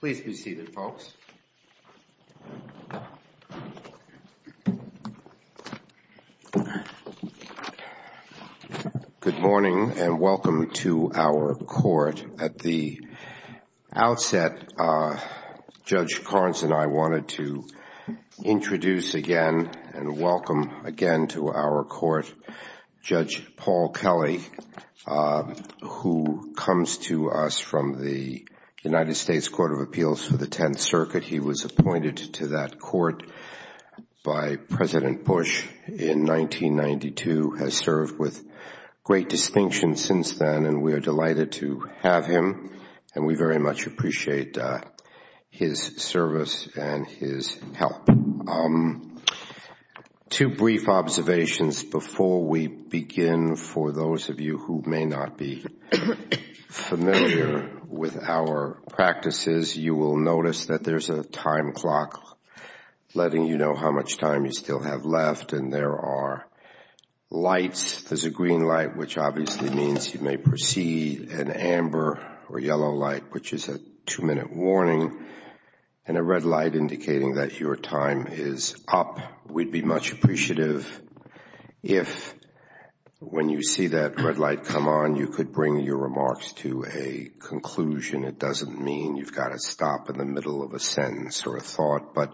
Please be seated, folks. Good morning, and welcome to our court. At the outset, Judge Carnes and I wanted to introduce again and welcome again to our court Judge Paul Kelly, who comes to us from the United States Court of Appeals for the Tenth Circuit. He was appointed to that court by President Bush in 1992, has served with great distinction since then, and we are delighted to have him, and we very much appreciate his service and his help. Two brief observations before we begin. For those of you who may not be familiar with our practices, you will notice that there is a time clock letting you know how much time you still have left, and there are lights. There's a green light, which obviously means you may proceed, an amber or yellow light, which is a two-minute warning, and a red light indicating that your time is up. We'd be much appreciative if, when you see that red light come on, you could bring your remarks to a conclusion. It doesn't mean you've got to stop in the middle of a sentence or a thought, but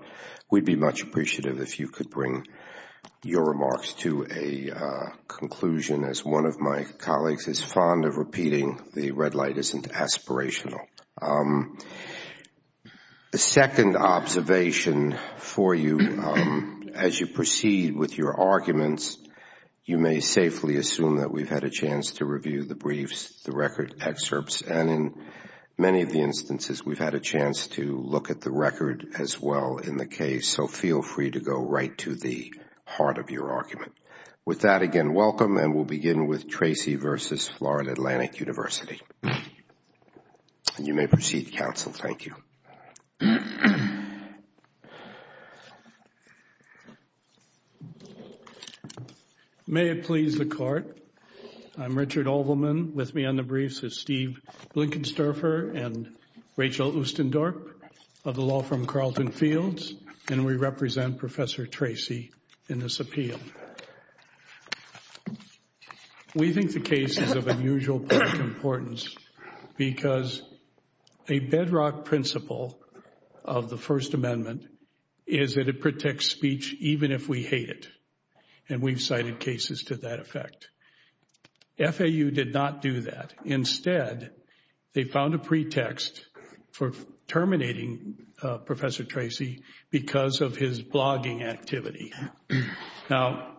we'd be much appreciative if you could bring your remarks to a conclusion. As one of my colleagues is fond of repeating, the red light isn't aspirational. The second observation for you, as you proceed with your arguments, you may safely assume that we've had a chance to review the briefs, the record excerpts, and in many of the instances, we've had a chance to look at the record as well in the case, so feel free to go right to the heart of your argument. With that, again, welcome, and we'll begin with Tracy v. Florida Atlantic University. You may proceed, counsel. Thank you. May it please the Court, I'm Richard Olbermann. With me on the briefs is Steve Blinkensterfer and Rachel Oostendorp of the law firm Carleton Fields, and we represent Professor Tracy in this appeal. We think the case is of unusual public importance because a bedrock principle of the First Amendment is that it protects speech even if we hate it, and we've cited cases to that effect. FAU did not do that. Instead, they found a pretext for terminating Professor Tracy because of his blogging activity. Now,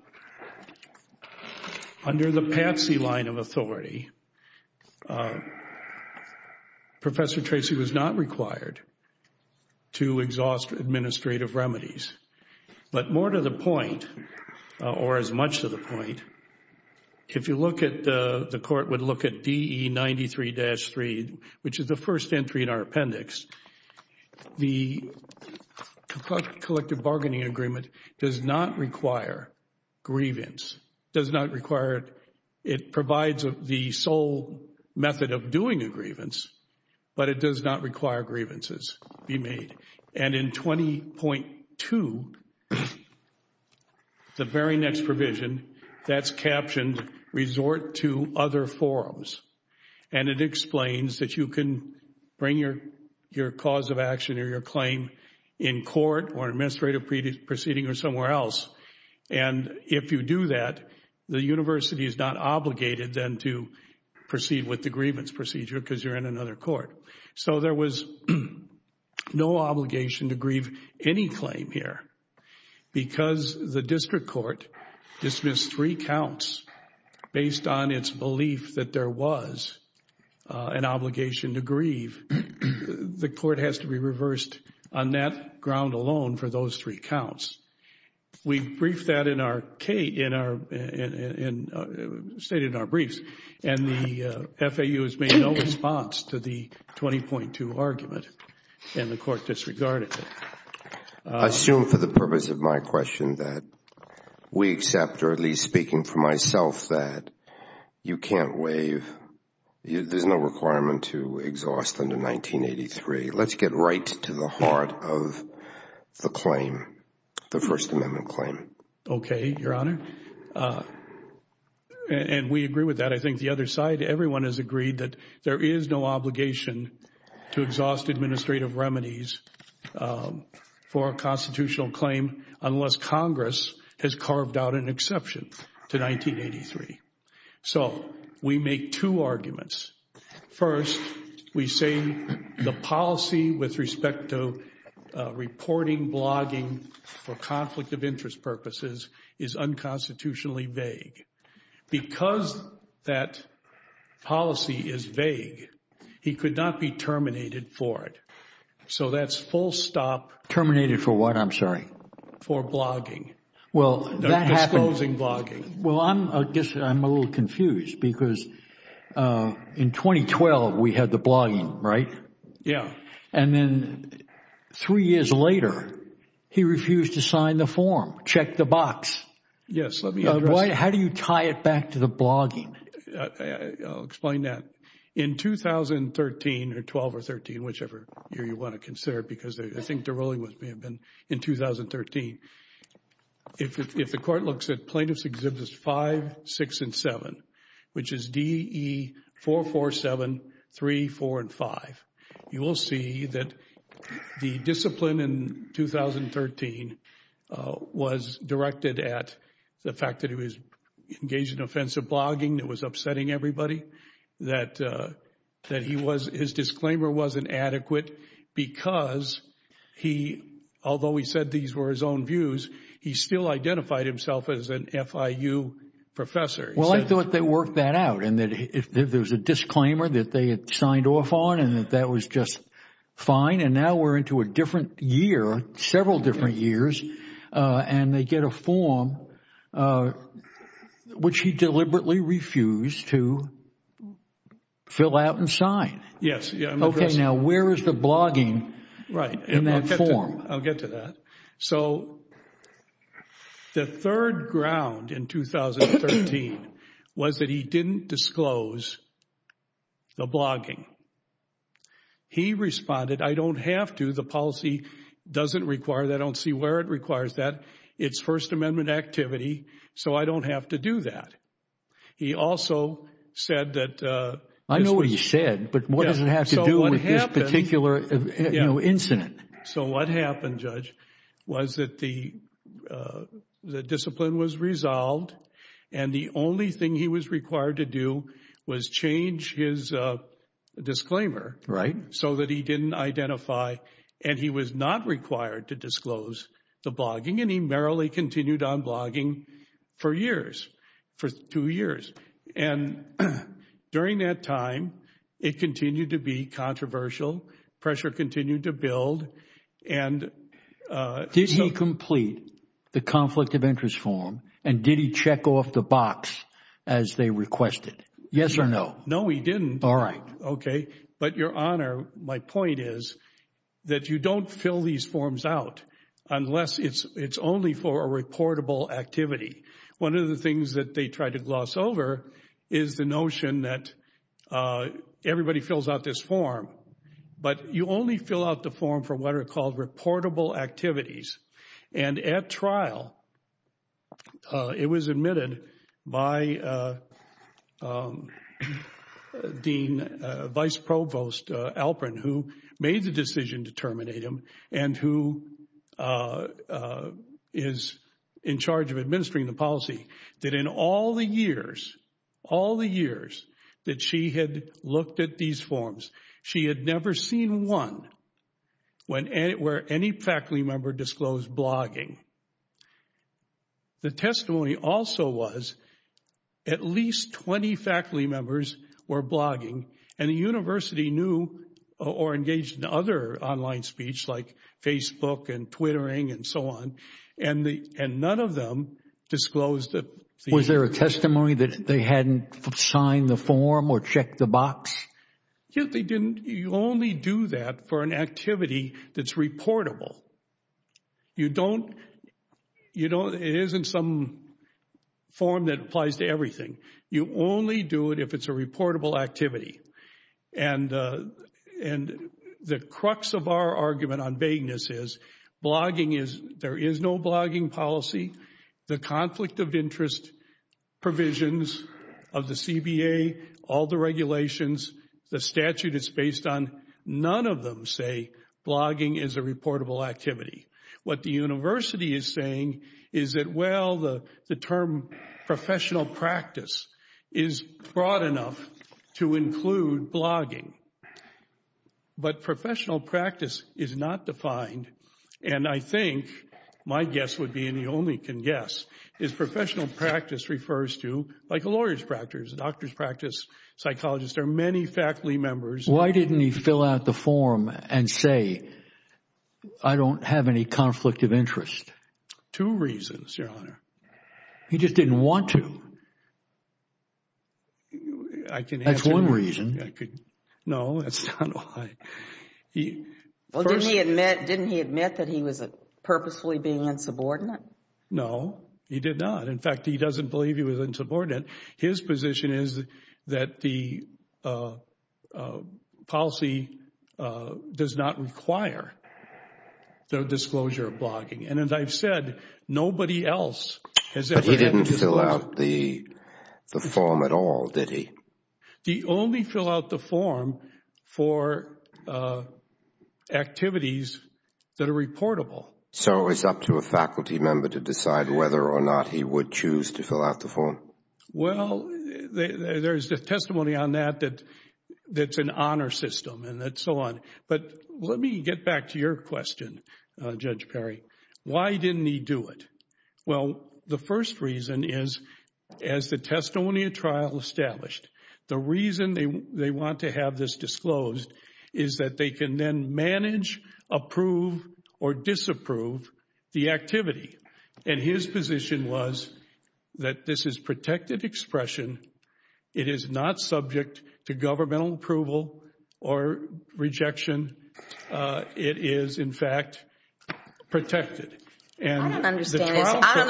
under the Patsy line of authority, Professor Tracy was not required to exhaust administrative remedies, but more to the point, or as much to the point, if you look at the Court would look at DE 93-3, which is the first entry in our appendix, the collective bargaining agreement does not require grievance, does not require, it provides the sole method of doing a grievance, but it does not require grievances be made, and in 20.2, the very next provision that's captioned, resort to other forums, and it explains that you can bring your cause of action or your claim in court or administrative proceeding or somewhere else, and if you do that, the university is not obligated then to proceed with the grievance procedure because you're in another court. So there was no obligation to grieve any claim here because the District Court dismissed three counts based on its belief that there was an obligation to grieve. The Court has to be reversed on that ground alone for those three counts. We briefed that in our, stated in our briefs, and the FAU has made no response to the 20.2 argument, and the Court disregarded it. I assume for the purpose of my question that we accept, or at least speaking for myself, that you can't waive, there's no requirement to exhaust under 1983. Let's get right to the heart of the claim, the First Amendment claim. Okay, Your Honor, and we agree with that. I think the other side, everyone has agreed that there is no obligation to exhaust administrative remedies for a constitutional claim unless Congress has carved out an exception to 1983. So we make two arguments. First, we say the policy with respect to reporting, blogging for conflict of interest purposes is unconstitutionally vague. Because that policy is vague, he could not be terminated for it. So that's full stop. Terminated for what, I'm sorry? For blogging. Well, that happened. Disclosing blogging. Well, I guess I'm a little confused because in 2012, we had the blogging, right? Yeah. And then three years later, he refused to sign the form. Check the box. Yes. Boy, how do you tie it back to the blogging? I'll explain that. In 2013 or 12 or 13, whichever year you want to consider it because I think the ruling may have been in 2013, if the court looks at Plaintiffs' Exhibits 5, 6, and 7, which the fact that he was engaged in offensive blogging that was upsetting everybody, that he was, his disclaimer wasn't adequate because he, although he said these were his own views, he still identified himself as an FIU professor. Well, I thought they worked that out and that if there was a disclaimer that they had signed off on and that that was just fine and now we're into a different year, several different years, and they get a form which he deliberately refused to fill out and sign. Yes. Okay, now where is the blogging in that form? I'll get to that. So the third ground in 2013 was that he didn't disclose the blogging. He responded, I don't have to. The policy doesn't require that. I don't see where it requires that. It's First Amendment activity, so I don't have to do that. He also said that... I know what he said, but what does it have to do with this particular incident? So what happened, Judge, was that the discipline was resolved and the only thing he was required to do was change his disclaimer so that he didn't identify and he was not required to disclose the blogging and he merrily continued on blogging for years, for two years. And during that time, it continued to be controversial. Pressure continued to build. Did he complete the conflict of interest form and did he check off the box as they requested? Yes or no? No, he didn't. All right. Okay. But Your Honor, my point is that you don't fill these forms out unless it's only for a reportable activity. One of the things that they tried to gloss over is the notion that everybody fills out this form, but you only fill out the form for what are called reportable activities. And at trial, it was admitted by Dean, Vice Provost Alperin, who made the decision to terminate him and who is in charge of administering the policy, that in all the years, all the years that she had looked at these forms, she had never seen one where any faculty member disclosed blogging. The testimony also was at least 20 faculty members were blogging and the university knew or engaged in other online speech like Facebook and Twittering and so on, and none of them disclosed it. Was there a testimony that they hadn't signed the form or checked the box? Yes, they didn't. You only do that for an activity that's reportable. You don't, you don't, it isn't some form that applies to everything. You only do it if it's a reportable activity. And the crux of our argument on vagueness is blogging is, there is no blogging policy. The conflict of interest provisions of the CBA, all the regulations, the statute is based on none of them say blogging is a reportable activity. What the university is saying is that, well, the term professional practice is broad enough to include blogging. But professional practice is not defined, and I think my guess would be, and you only can guess, is professional practice refers to, like a lawyer's practice, a doctor's practice, psychologists, there are many faculty members. Why didn't he fill out the form and say, I don't have any conflict of interest? Two reasons, Your Honor. He just didn't want to. I can answer. That's one reason. No, that's not why. Well, didn't he admit that he was purposefully being insubordinate? No, he did not. In fact, he doesn't believe he was insubordinate. His position is that the policy does not require the disclosure of blogging. And as I've said, nobody else has ever done that. But he didn't fill out the form at all, did he? He only fill out the form for activities that are reportable. So it's up to a faculty member to decide whether or not he would choose to fill out the form? Well, there's testimony on that that's an honor system and so on. But let me get back to your question, Judge Perry. Why didn't he do it? Well, the first reason is, as the testimonial trial established, the reason they want to have this disclosed is that they can then manage, approve or disapprove the activity. And his position was that this is protected expression. It is not subject to governmental approval or rejection. It is, in fact, protected. I don't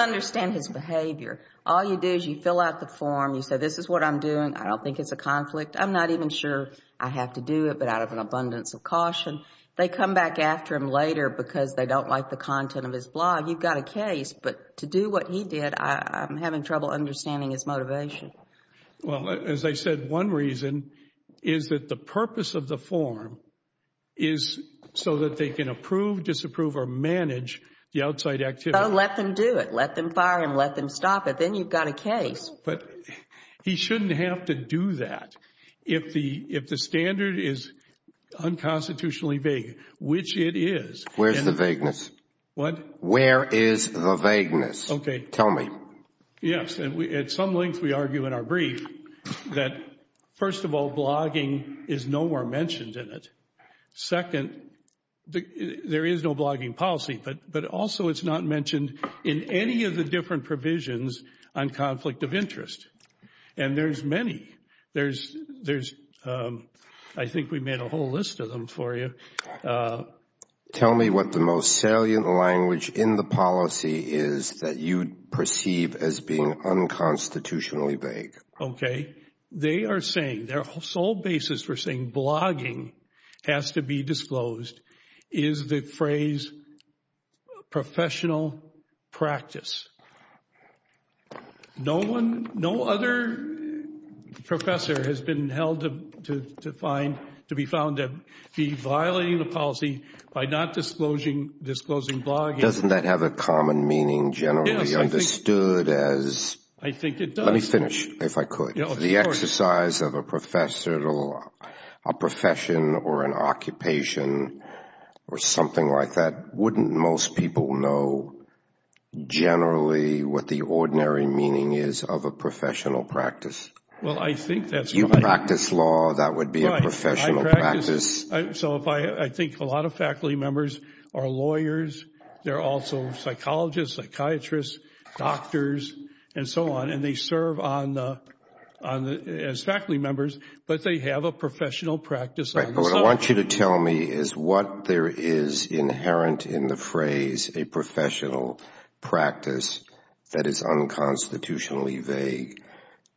understand his behavior. All you do is you fill out the form. You say, this is what I'm doing. I don't think it's a conflict. I'm not even sure I have to do it, but out of an abundance of caution. They come back after him later because they don't like the content of his blog. You've got a case. But to do what he did, I'm having trouble understanding his motivation. Well, as I said, one reason is that the purpose of the form is so that they can approve, disapprove or manage the outside activity. So let them do it. Let them fire him. Let them stop it. Then you've got a case. But he shouldn't have to do that if the standard is unconstitutionally vague, which it is. Where's the vagueness? What? Where is the vagueness? Okay. Tell me. Yes. And at some length, we argue in our brief that, first of all, blogging is no more mentioned in it. Second, there is no blogging policy, but also it's not mentioned in any of the different provisions on conflict of interest. And there's many. I think we made a whole list of them for you. Tell me what the most salient language in the policy is that you perceive as being unconstitutionally vague. Okay. They are saying their sole basis for saying blogging has to be disclosed is the phrase professional practice. No other professor has been held to be found to be violating the policy by not disclosing blogging. Doesn't that have a common meaning generally understood as... I think it does. Let me finish if I could. The exercise of a profession or an occupation or something like that, wouldn't most people know generally what the ordinary meaning is of a professional practice? Well, I think that's... You practice law, that would be a professional practice. So I think a lot of faculty members are lawyers. They're also psychologists, psychiatrists, doctors, and so on. They serve as faculty members, but they have a professional practice. Right. But what I want you to tell me is what there is inherent in the phrase a professional practice that is unconstitutionally vague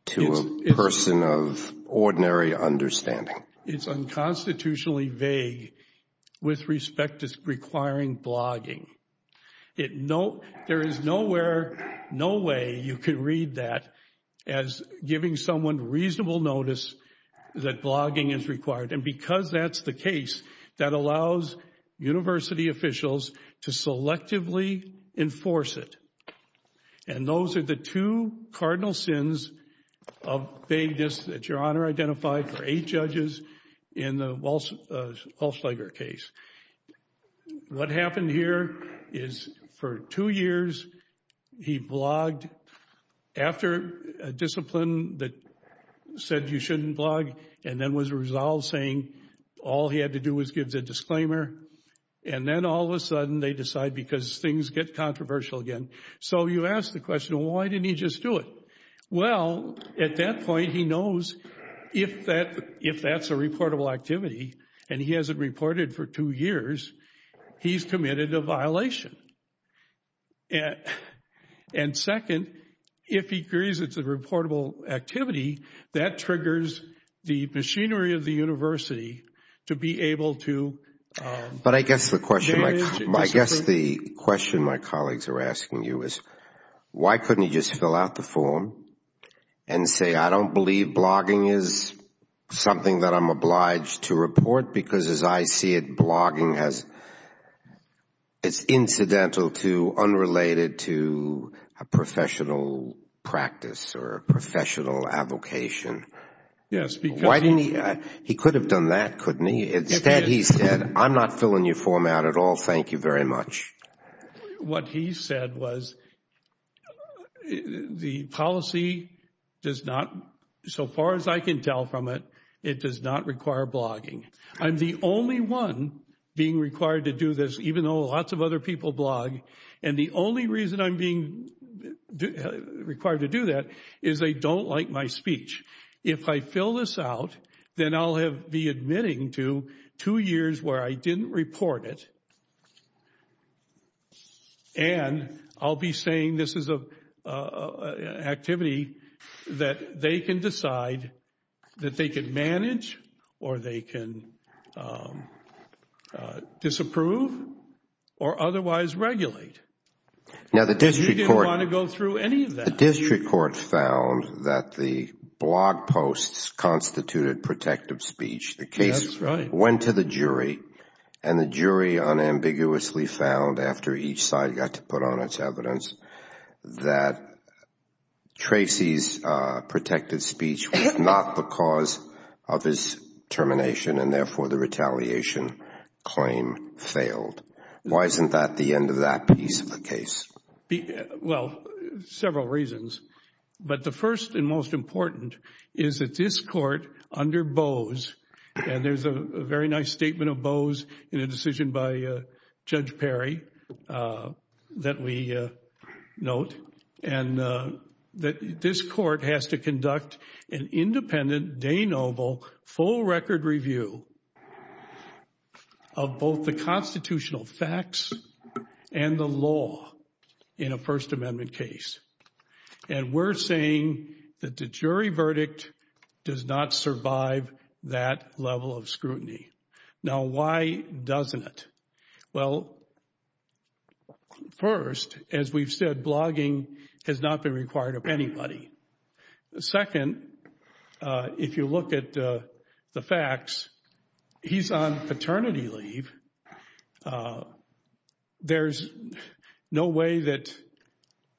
to a person of ordinary understanding. It's unconstitutionally vague with respect to requiring blogging. It no... There is nowhere, no way you can read that as giving someone reasonable notice that blogging is required. And because that's the case, that allows university officials to selectively enforce it. And those are the two cardinal sins of vagueness that Your Honor identified for eight judges in the Walsh-Schlager case. What happened here is for two years, he blogged after a discipline that said you shouldn't blog, and then was resolved saying all he had to do was give the disclaimer. And then all of a sudden, they decide because things get controversial again. So you ask the question, why didn't he just do it? Well, at that point, he knows if that's a reportable activity, and he hasn't reported for two years, he's committed a violation. And second, if he agrees it's a reportable activity, that triggers the machinery of the university to be able to... But I guess the question my colleagues are asking you is, why couldn't he just fill out the form and say, I don't believe blogging is something that I'm obliged to report? Because as I see it, blogging has... It's incidental to, unrelated to a professional practice or a professional advocation. Yes, because... Why didn't he... He could have done that, couldn't he? Instead, he said, I'm not filling your form out at all. Thank you very much. What he said was, the policy does not, so far as I can tell from it, it does not require blogging. I'm the only one being required to do this, even though lots of other people blog. And the only reason I'm being required to do that is they don't like my speech. If I fill this out, then I'll be admitting to two years where I didn't report it. And I'll be saying this is an activity that they can decide, that they can manage, or they can disapprove, or otherwise regulate. Now, the district court... He didn't want to go through any of that. The district court found that the blog posts constituted protective speech. The case went to the jury, and the jury unambiguously found, after each side got to put on its evidence, that Tracy's protective speech was not the cause of his termination, and therefore the retaliation claim failed. Why isn't that the end of that piece of the case? Well, several reasons. But the first and most important is that this court, under Bose, and there's a very nice of Bose in a decision by Judge Perry that we note, and that this court has to conduct an independent, de noble, full record review of both the constitutional facts and the law in a First Amendment case. And we're saying that the jury verdict does not survive that level of scrutiny. Now, why doesn't it? Well, first, as we've said, blogging has not been required of anybody. Second, if you look at the facts, he's on paternity leave. There's no way that...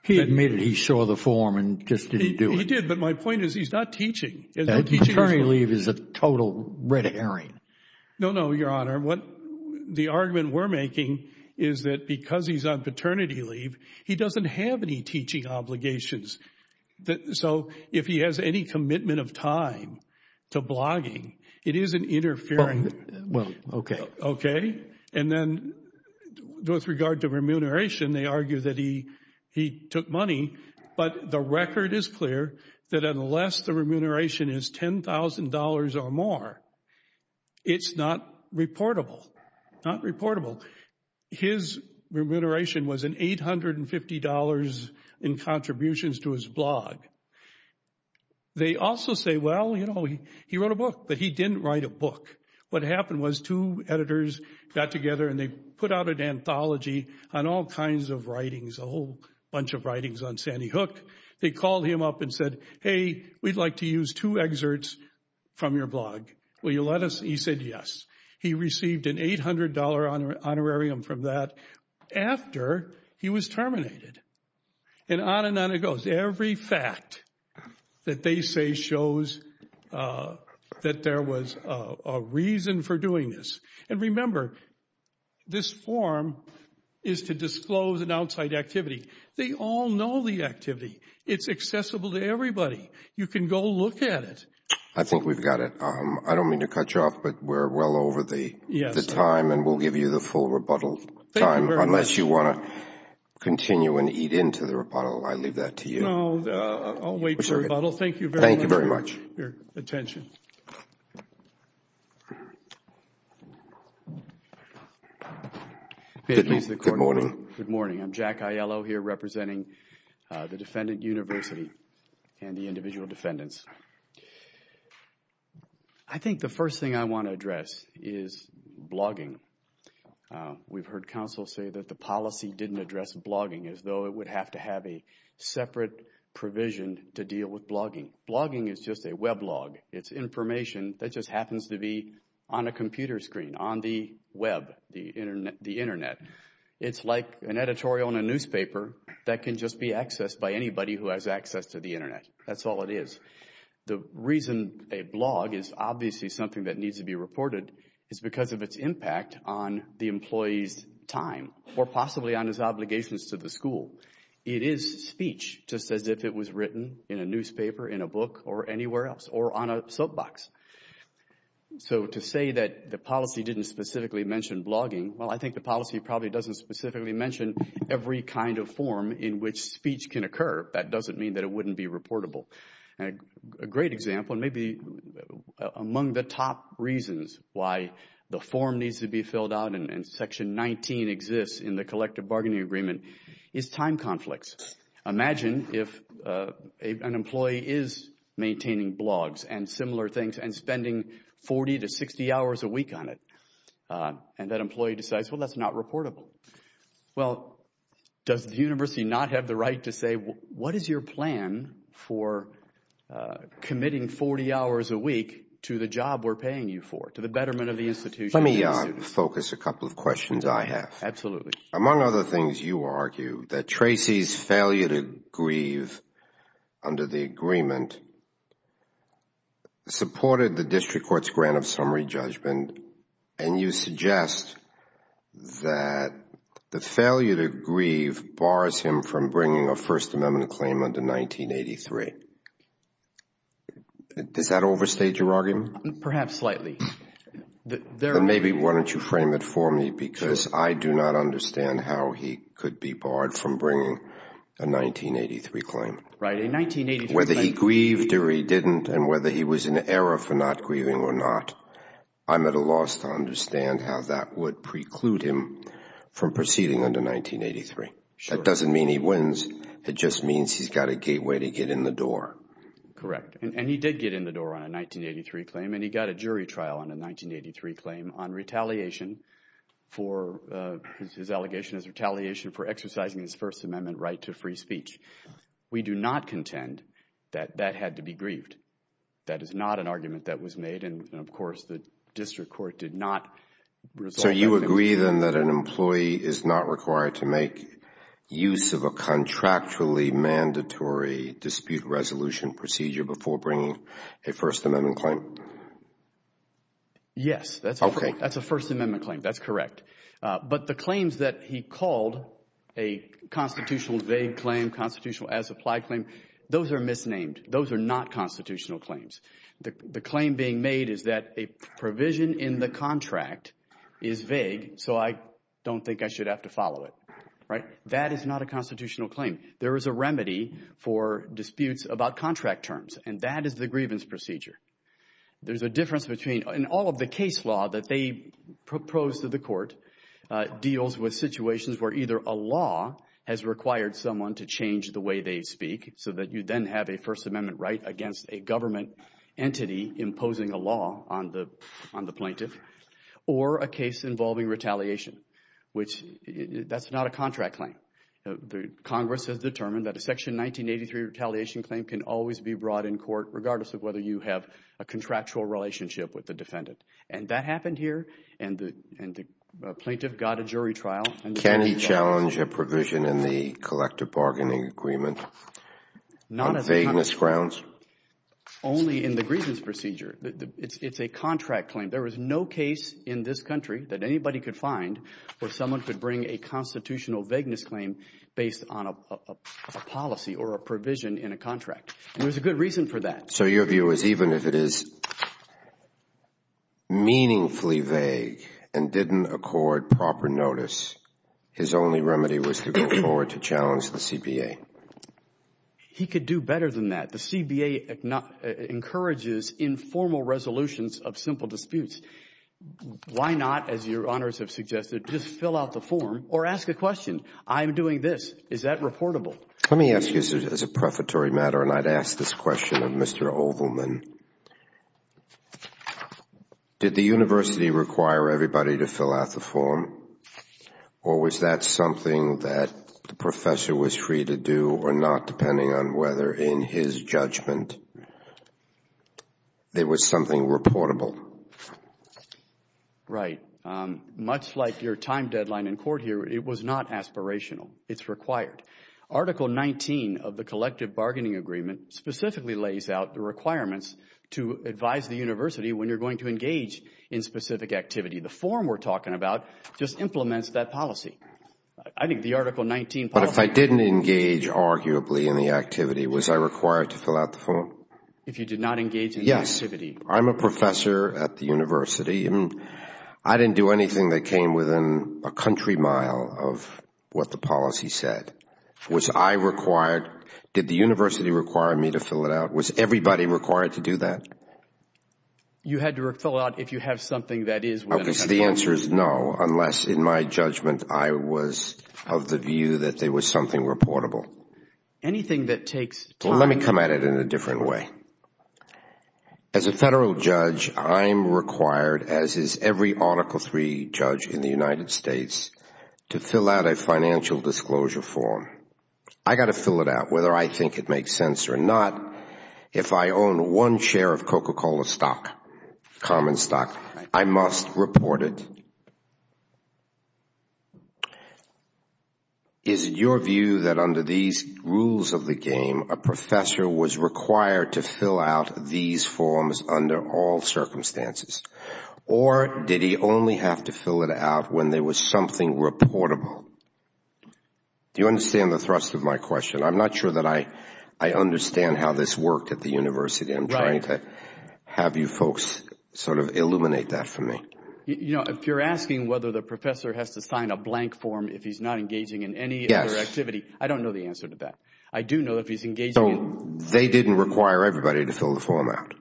He admitted he saw the form and just didn't do it. He did, but my point is, he's not teaching. Paternity leave is a total red herring. No, no, Your Honor. What the argument we're making is that because he's on paternity leave, he doesn't have any teaching obligations. So if he has any commitment of time to blogging, it isn't interfering. Well, okay. Okay. And then with regard to remuneration, they argue that he took money. But the record is clear that unless the remuneration is $10,000 or more, it's not reportable, not reportable. His remuneration was an $850 in contributions to his blog. They also say, well, you know, he wrote a book, but he didn't write a book. What happened was two editors got together and they put out an anthology on all kinds of writings, a whole bunch of writings on Sandy Hook. They called him up and said, hey, we'd like to use two excerpts from your blog. Will you let us? He said yes. He received an $800 honorarium from that after he was terminated. And on and on it goes. Every fact that they say shows that there was a reason for doing this. And remember, this form is to disclose an outside activity. They all know the activity. It's accessible to everybody. You can go look at it. I think we've got it. I don't mean to cut you off, but we're well over the time. And we'll give you the full rebuttal time unless you want to continue and eat into the rebuttal. I leave that to you. No, I'll wait for rebuttal. Thank you very much for your attention. Good morning. I'm Jack Aiello here representing the Defendant University and the individual defendants. I think the first thing I want to address is blogging. We've heard counsel say that the policy didn't address blogging as though it would have to have a separate provision to deal with blogging. Blogging is just a weblog. It's information that just happens to be on a computer screen, on the web, the internet. It's like an editorial in a newspaper that can just be accessed by anybody who has access to the internet. That's all it is. The reason a blog is obviously something that needs to be reported is because of its impact on the employee's time or possibly on his obligations to the school. It is speech, just as if it was written in a newspaper, in a book, or anywhere else, or on a soapbox. So to say that the policy didn't specifically mention blogging, well, I think the policy probably doesn't specifically mention every kind of form in which speech can occur. That doesn't mean that it wouldn't be reportable. And a great example, and maybe among the top reasons why the form needs to be filled out and Section 19 exists in the Collective Bargaining Agreement, is time conflicts. Imagine if an employee is maintaining blogs and similar things and spending 40 to 60 hours a week on it. And that employee decides, well, that's not reportable. Well, does the university not have the right to say, what is your plan for committing 40 hours a week to the job we're paying you for, to the betterment of the institution? Let me focus a couple of questions I have. Absolutely. Among other things, you argue that Tracy's failure to grieve under the agreement supported the district court's grant of summary judgment. And you suggest that the failure to grieve bars him from bringing a First Amendment claim under 1983. Does that overstate your argument? Perhaps slightly. Maybe why don't you frame it for me? Because I do not understand how he could be barred from bringing a 1983 claim. Whether he grieved or he didn't, and whether he was in error for not grieving or not, I'm at a loss to understand how that would preclude him from proceeding under 1983. That doesn't mean he wins. It just means he's got a gateway to get in the door. Correct. And he did get in the door on a 1983 claim. And he got a jury trial on a 1983 claim on retaliation for, his allegation is retaliation for exercising his First Amendment right to free speech. We do not contend that that had to be grieved. That is not an argument that was made. And of course, the district court did not resolve that. So you agree then that an employee is not required to make use of a contractually mandatory dispute resolution procedure before bringing a First Amendment claim? Yes, that's a First Amendment claim. That's correct. But the claims that he called a constitutional vague claim, constitutional as applied claim, those are misnamed. Those are not constitutional claims. The claim being made is that a provision in the contract is vague. So I don't think I should have to follow it, right? That is not a constitutional claim. There is a remedy for disputes about contract terms. And that is the grievance procedure. There's a difference between, in all of the case law that they propose to the court, deals with situations where either a law has required someone to change the way they speak, so that you then have a First Amendment right against a government entity imposing a law on the plaintiff, or a case involving retaliation, which that's not a contract claim. The Congress has determined that a Section 1983 retaliation claim can always be brought in court regardless of whether you have a contractual relationship with the defendant. And that happened here. And the plaintiff got a jury trial. Can he challenge a provision in the collective bargaining agreement? Not on vagueness grounds. Only in the grievance procedure. It's a contract claim. There was no case in this country that anybody could find where someone could bring a constitutional vagueness claim based on a policy or a provision in a contract. And there's a good reason for that. So your view is even if it is meaningfully vague and didn't accord proper notice, his only remedy was to go forward to challenge the CPA? He could do better than that. The CPA encourages informal resolutions of simple disputes. Why not, as your honors have suggested, just fill out the form or ask a question? I'm doing this. Is that reportable? Let me ask you as a prefatory matter, and I'd ask this question of Mr. Ovalman. Did the university require everybody to fill out the form? Or was that something that the professor was free to do or not, depending on whether in his judgment there was something reportable? Right. Much like your time deadline in court here, it was not aspirational. It's required. Article 19 of the collective bargaining agreement specifically lays out the requirements to advise the university when you're going to engage in specific activity. The form we're talking about just implements that policy. I think the Article 19 policy... But if I didn't engage arguably in the activity, was I required to fill out the form? If you did not engage in the activity... Yes. I'm a professor at the university. I didn't do anything that came within a country mile of what the policy said. Was I required? Did the university require me to fill it out? Was everybody required to do that? You had to fill it out if you have something that is... The answer is no, unless in my judgment I was of the view that there was something reportable. Anything that takes time... Let me come at it in a different way. As a federal judge, I'm required, as is every Article 3 judge in the United States, to fill out a financial disclosure form. I got to fill it out, whether I think it makes sense or not. If I own one share of Coca-Cola stock, common stock, I must report it. Is it your view that under these rules of the game, a professor was required to fill out these forms under all circumstances? Or did he only have to fill it out when there was something reportable? Do you understand the thrust of my question? I'm not sure that I understand how this worked at the university. I'm trying to have you folks sort of illuminate that for me. If you're asking whether the professor has to sign a blank form if he's not engaging in any other activity, I don't know the answer to that. I do know if he's engaging in... They didn't require everybody to fill the form out.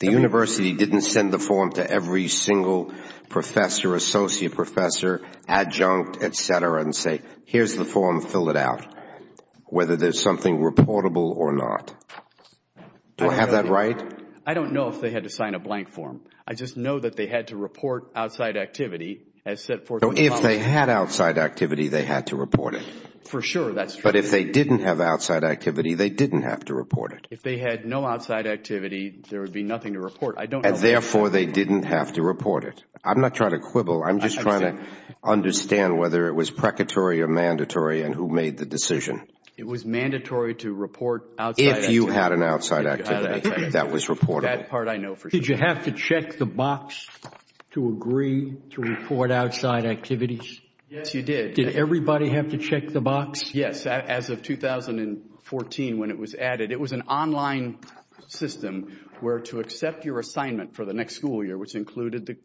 The university didn't send the form to every single professor, associate professor, adjunct, etc., and say, here's the form, fill it out, whether there's something reportable or not. Do I have that right? I don't know if they had to sign a blank form. I just know that they had to report outside activity as set forth... If they had outside activity, they had to report it. For sure, that's true. But if they didn't have outside activity, they didn't have to report it. If they had no outside activity, there would be nothing to report. I'm not trying to quibble. I'm just trying to understand whether it was precatory or mandatory and who made the decision. It was mandatory to report outside activity... If you had an outside activity that was reportable. That part I know for sure. Did you have to check the box to agree to report outside activities? Yes, you did. Did everybody have to check the box? Yes, as of 2014 when it was added. It was an online system where to accept your assignment for the next school year, which included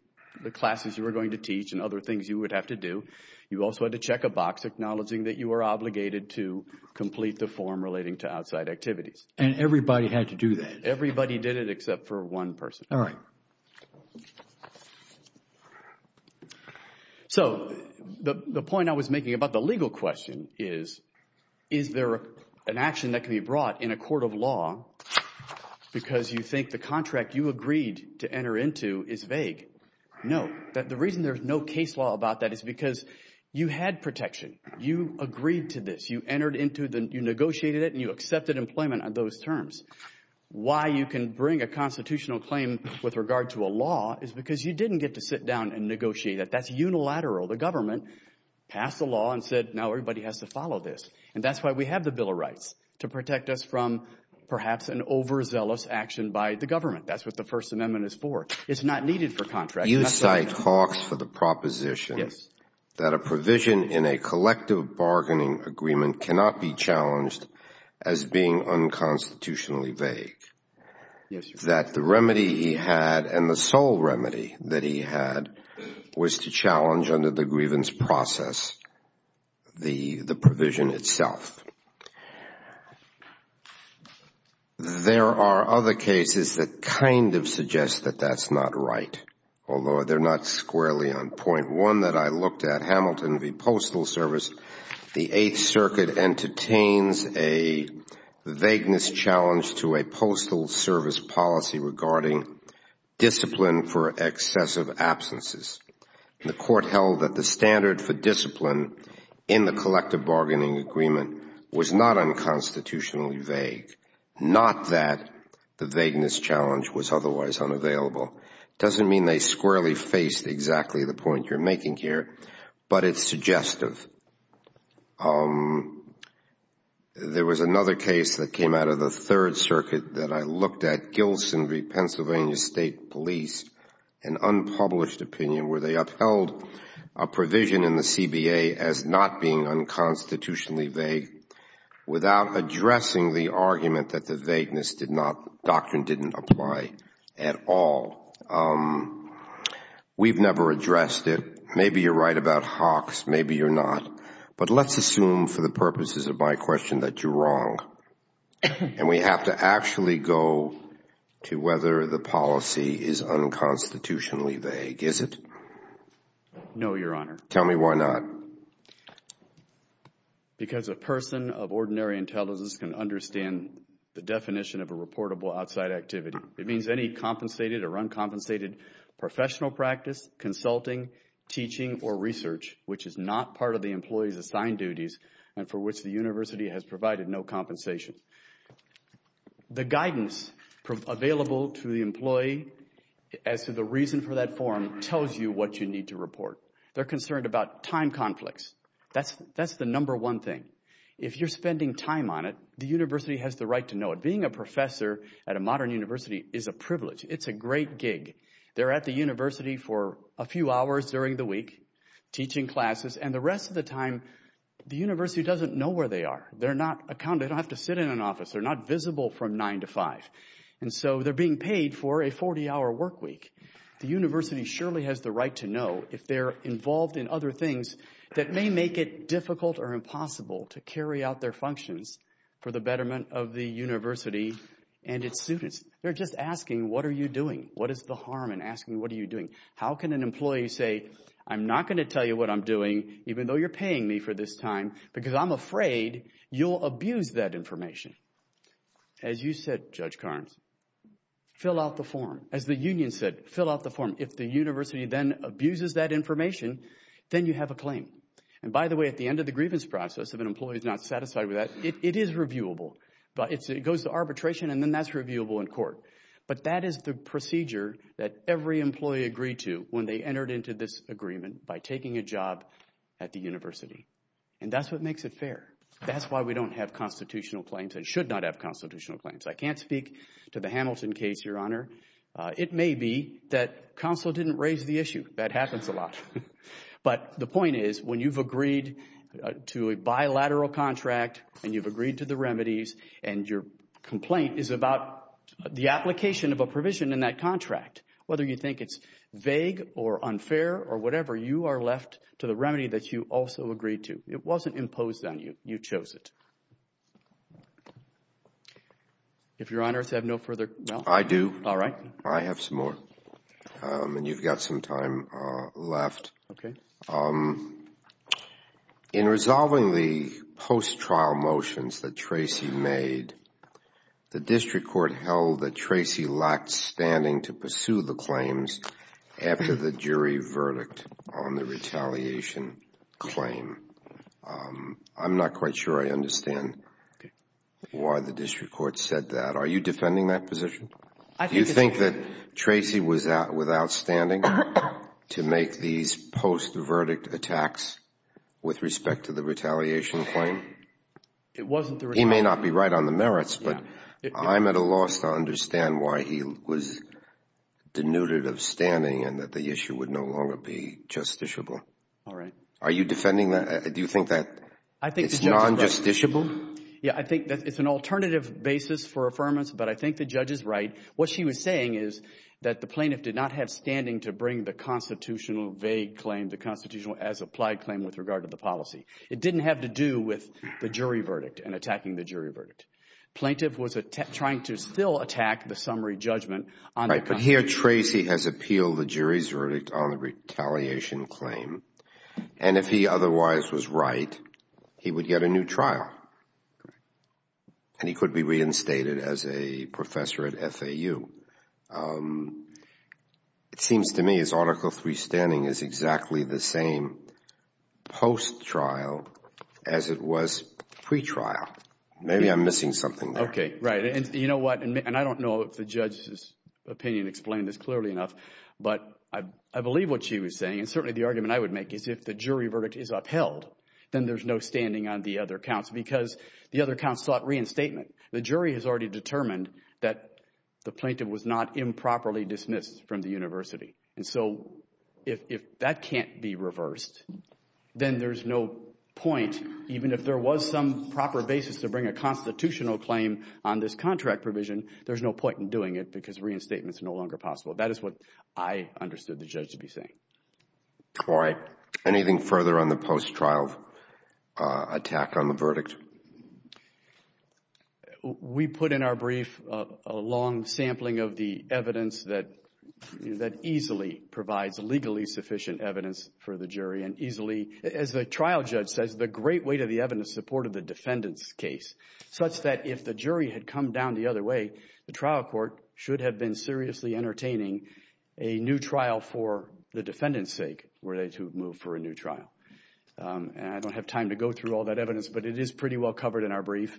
the classes you were going to teach and other things you would have to do. You also had to check a box acknowledging that you were obligated to complete the form relating to outside activities. And everybody had to do that? Everybody did it except for one person. All right. So the point I was making about the legal question is, is there an action that can be brought in a court of law because you think the contract you agreed to enter into is vague? No. The reason there's no case law about that is because you had protection. You agreed to this. You negotiated it and you accepted employment on those terms. Why you can bring a constitutional claim with regard to a law is because you didn't get to sit down and negotiate it. That's unilateral. The government passed a law and said now everybody has to follow this. And that's why we have the Bill of Rights, to protect us from perhaps an overzealous action by the government. That's what the First Amendment is for. It's not needed for contract. You cite Hawks for the proposition that a provision in a collective bargaining agreement cannot be challenged as being unconstitutionally vague. That the remedy he had, and the sole remedy that he had, was to challenge under the grievance process the provision itself. There are other cases that kind of suggest that that's not right, although they're not squarely on point. One that I looked at, Hamilton v. Postal Service, the Eighth Circuit entertains a vagueness challenge to a postal service policy regarding discipline for excessive absences. The court held that the standard for discipline in the collective bargaining agreement was not unconstitutionally vague. Not that the vagueness challenge was otherwise unavailable. It doesn't mean they squarely faced exactly the point you're making here, but it's suggestive. There was another case that came out of the Third Circuit that I looked at, Wilson v. Pennsylvania State Police, an unpublished opinion where they upheld a provision in the CBA as not being unconstitutionally vague without addressing the argument that the vagueness doctrine didn't apply at all. We've never addressed it. Maybe you're right about Hawks, maybe you're not. But let's assume for the purposes of my question that you're wrong. And we have to actually go to whether the policy is unconstitutionally vague. Is it? No, Your Honor. Tell me why not. Because a person of ordinary intelligence can understand the definition of a reportable outside activity. It means any compensated or uncompensated professional practice, consulting, teaching, or research which is not part of the employee's assigned duties and for which the university has provided no compensation. The guidance available to the employee as to the reason for that form tells you what you need to report. They're concerned about time conflicts. That's the number one thing. If you're spending time on it, the university has the right to know it. Being a professor at a modern university is a privilege. It's a great gig. They're at the university for a few hours during the week teaching classes, and the rest of the time the university doesn't know where they are. They're not accounted. They don't have to sit in an office. They're not visible from 9 to 5. And so they're being paid for a 40-hour work week. The university surely has the right to know if they're involved in other things that may make it difficult or impossible to carry out their functions for the betterment of the university and its students. They're just asking, what are you doing? What is the harm in asking, what are you doing? How can an employee say, I'm not going to tell you what I'm doing, even though you're paying me for this time, because I'm afraid you'll abuse that information? As you said, Judge Karnes, fill out the form. As the union said, fill out the form. If the university then abuses that information, then you have a claim. And by the way, at the end of the grievance process, if an employee is not satisfied with that, it is reviewable. It goes to arbitration, and then that's reviewable in court. But that is the procedure that every employee agreed to when they entered into this agreement by taking a job at the university. And that's what makes it fair. That's why we don't have constitutional claims and should not have constitutional claims. I can't speak to the Hamilton case, Your Honor. It may be that counsel didn't raise the issue. That happens a lot. But the point is, when you've agreed to a bilateral contract, and you've agreed to the remedies, and your complaint is about the application of a provision in that contract, whether you think it's vague or unfair or whatever, you are left to the remedy that you also agreed to. It wasn't imposed on you. You chose it. If Your Honor has no further... I do. All right. I have some more. And you've got some time left. Okay. Um, in resolving the post-trial motions that Tracey made, the district court held that Tracey lacked standing to pursue the claims after the jury verdict on the retaliation claim. I'm not quite sure I understand why the district court said that. Are you defending that position? I think it's... Do you think that Tracey was outwithout standing to make these post-verdict attacks with respect to the retaliation claim? It wasn't the retaliation... He may not be right on the merits, but I'm at a loss to understand why he was denuded of standing and that the issue would no longer be justiciable. All right. Are you defending that? Do you think that it's non-justiciable? Yeah, I think that it's an alternative basis for affirmance, but I think the judge is right. What she was saying is that the plaintiff did not have standing to bring the constitutional vague claim, the constitutional as-applied claim with regard to the policy. It didn't have to do with the jury verdict and attacking the jury verdict. Plaintiff was trying to still attack the summary judgment on... Right, but here Tracey has appealed the jury's verdict on the retaliation claim. And if he otherwise was right, he would get a new trial. Correct. And he could be reinstated as a professor at FAU. It seems to me his Article III standing is exactly the same post-trial as it was pre-trial. Maybe I'm missing something there. Okay, right. And you know what? And I don't know if the judge's opinion explained this clearly enough, but I believe what she was saying, and certainly the argument I would make is if the jury verdict is upheld, then there's no standing on the other counts because the other counts sought reinstatement. The jury has already determined that the plaintiff was not improperly dismissed from the university. And so if that can't be reversed, then there's no point, even if there was some proper basis to bring a constitutional claim on this contract provision, there's no point in doing it because reinstatements are no longer possible. That is what I understood the judge to be saying. All right. Anything further on the post-trial attack on the verdict? We put in our brief a long sampling of the evidence that easily provides legally sufficient evidence for the jury and easily, as the trial judge says, the great weight of the evidence supported the defendant's case such that if the jury had come down the other way, the trial court should have been seriously entertaining a new trial for the defendant's sake, were they to move for a new trial. And I don't have time to go through all that evidence, but it is pretty well covered in our brief.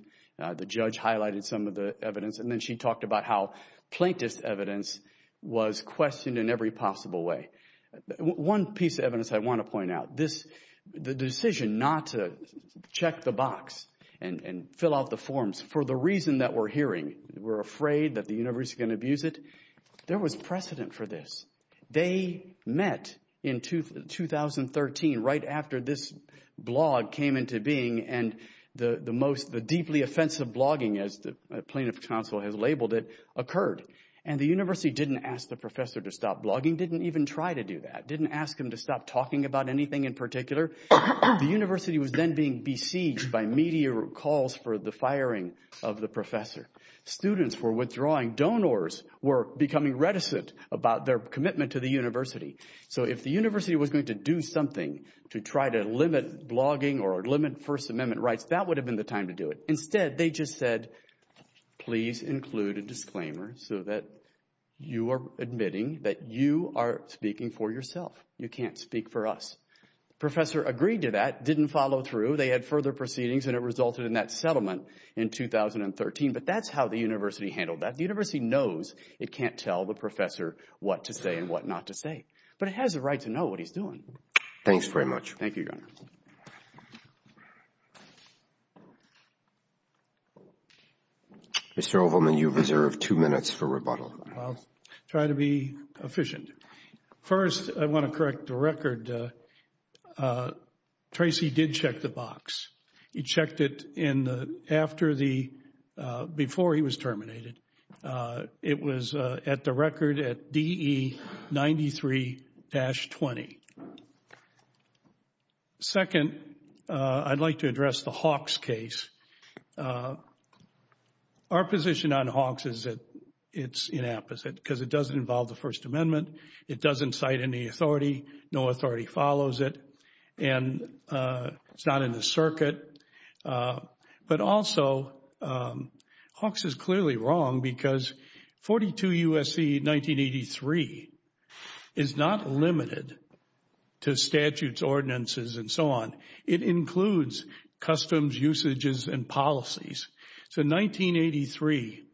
The judge highlighted some of the evidence and then she talked about how plaintiff's evidence was questioned in every possible way. One piece of evidence I want to point out, the decision not to check the box and fill out the forms for the reason that we're hearing, we're afraid that the university is going to abuse it, there was precedent for this. They met in 2013 right after this blog came into being and the deeply offensive blogging, as the plaintiff's counsel has labeled it, occurred. And the university didn't ask the professor to stop blogging, didn't even try to do that, didn't ask him to stop talking about anything in particular. The university was then being besieged by media calls for the firing of the professor. Students were withdrawing. Donors were becoming reticent about their commitment to the university. So if the university was going to do something to try to limit blogging or limit First Amendment rights, that would have been the time to do it. Instead, they just said, please include a disclaimer so that you are admitting that you are speaking for yourself. You can't speak for us. Professor agreed to that, didn't follow through. They had further proceedings and it resulted in that settlement in 2013. But that's how the university handled that. The university knows it can't tell the professor what to say and what not to say, but it has a right to know what he's doing. Thanks very much. Thank you, Your Honor. Mr. Ovalman, you reserve two minutes for rebuttal. I'll try to be efficient. First, I want to correct the record. Tracy did check the box. He checked it in the, after the, before he was terminated. It was at the record at DE 93-20. Second, I'd like to address the Hawks case. Our position on Hawks is that it's inapposite because it doesn't involve the First Amendment. It doesn't cite any authority. But also, Hawks is clearly wrong because 42 U.S.C. 1983 is not limited to statutes, ordinances, and so on. It includes customs, usages, and policies. So 1983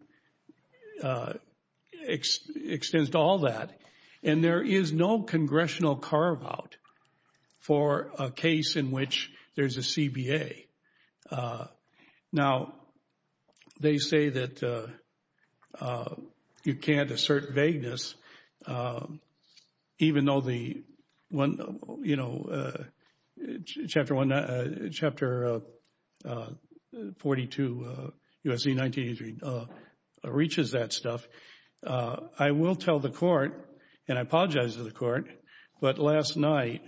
extends to all that. And there is no congressional carve out for a case in which there's a CBA. Now, they say that you can't assert vagueness even though the one, you know, Chapter 42 U.S.C. 1983 reaches that stuff. I will tell the court, and I apologize to the court, but last night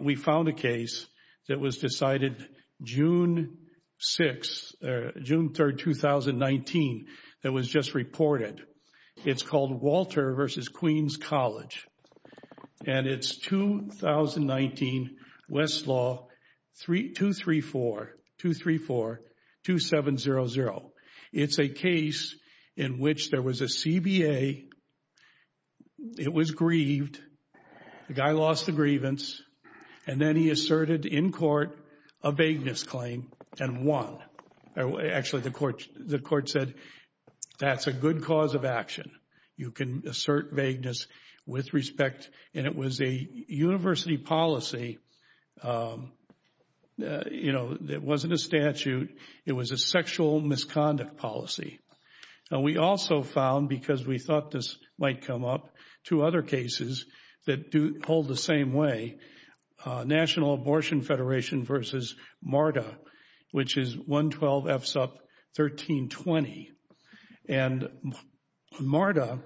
we found a case that was decided June 6, June 3, 2019, that was just reported. It's called Walter v. Queens College. And it's 2019 Westlaw 234-2700. It's a case in which there was a CBA. It was grieved. The guy lost the grievance. And then he asserted in court a vagueness claim and won. Actually, the court said that's a good cause of action. You can assert vagueness with respect. And it was a university policy, you know, that wasn't a statute. It was a sexual misconduct policy. Now, we also found, because we thought this might come up, two other cases that do hold the same way. National Abortion Federation v. MARTA, which is 112-F-SUP-1320. And MARTA,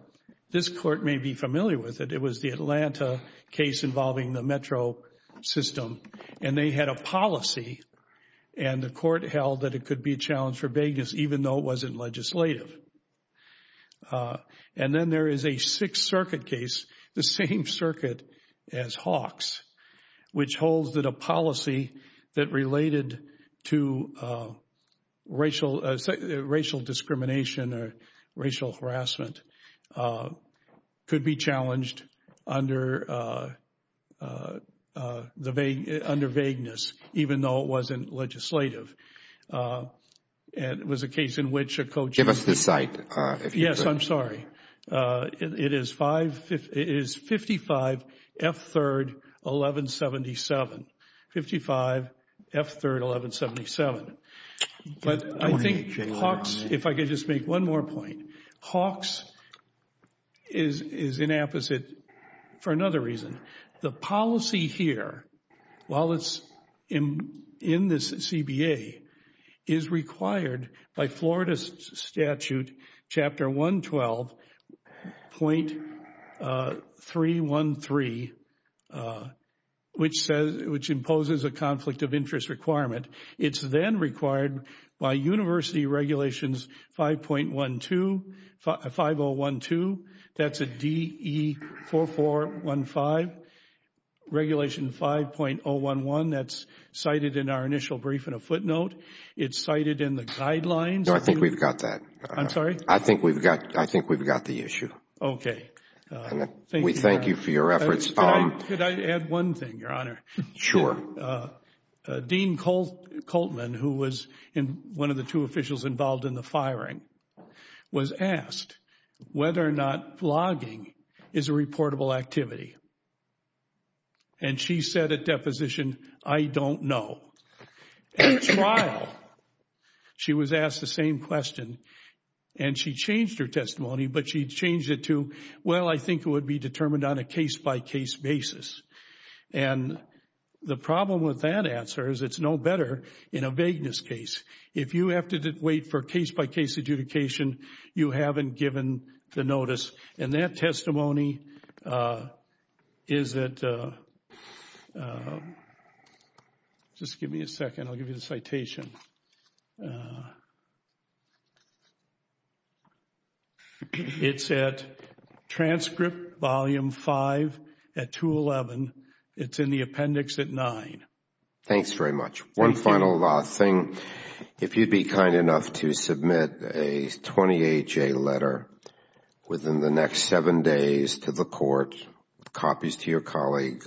this court may be familiar with it. It was the Atlanta case involving the metro system. And they had a policy, and the court held that it could be a challenge for vagueness even though it wasn't legislative. And then there is a Sixth Circuit case, the same circuit as Hawks, which holds that a policy that related to racial discrimination or racial harassment could be challenged under vagueness even though it wasn't legislative. And it was a case in which a co-chief... Give us the site. Yes, I'm sorry. It is 55-F-3-1177. 55-F-3-1177. But I think Hawks, if I could just make one more point. Hawks is inapposite for another reason. The policy here, while it's in this CBA, is required by Florida's statute, Chapter 112.313, which imposes a conflict of interest requirement. It's then required by university regulations 5.12, 5012. That's a DE4415, regulation 5.011. That's cited in our initial brief in a footnote. It's cited in the guidelines. No, I think we've got that. I'm sorry? I think we've got the issue. Okay. We thank you for your efforts. Could I add one thing, Your Honor? Sure. Dean Coltman, who was one of the two officials involved in the firing, was asked whether or not blogging is a reportable activity. And she said at deposition, I don't know. At trial, she was asked the same question, and she changed her testimony, but she changed it to, well, I think it would be determined on a case-by-case basis. And the problem with that answer is it's no better in a vagueness case. If you have to wait for case-by-case adjudication, you haven't given the notice. And that testimony is at, just give me a second. I'll give you the citation. It's at transcript volume 5 at 211. It's in the appendix at 9. Thanks very much. One final thing. If you'd be kind enough to submit a 20HA letter within the next seven days to the court, copies to your colleague,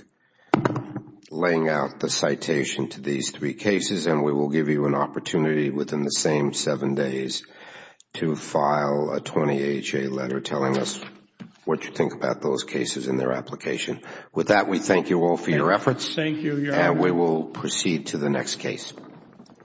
laying out the citation to these three cases, and we will give you an opportunity within the same seven days to file a 20HA letter telling us what you think about those cases and their application. With that, we thank you all for your efforts. Thank you, Your Honor. We will proceed to the next case.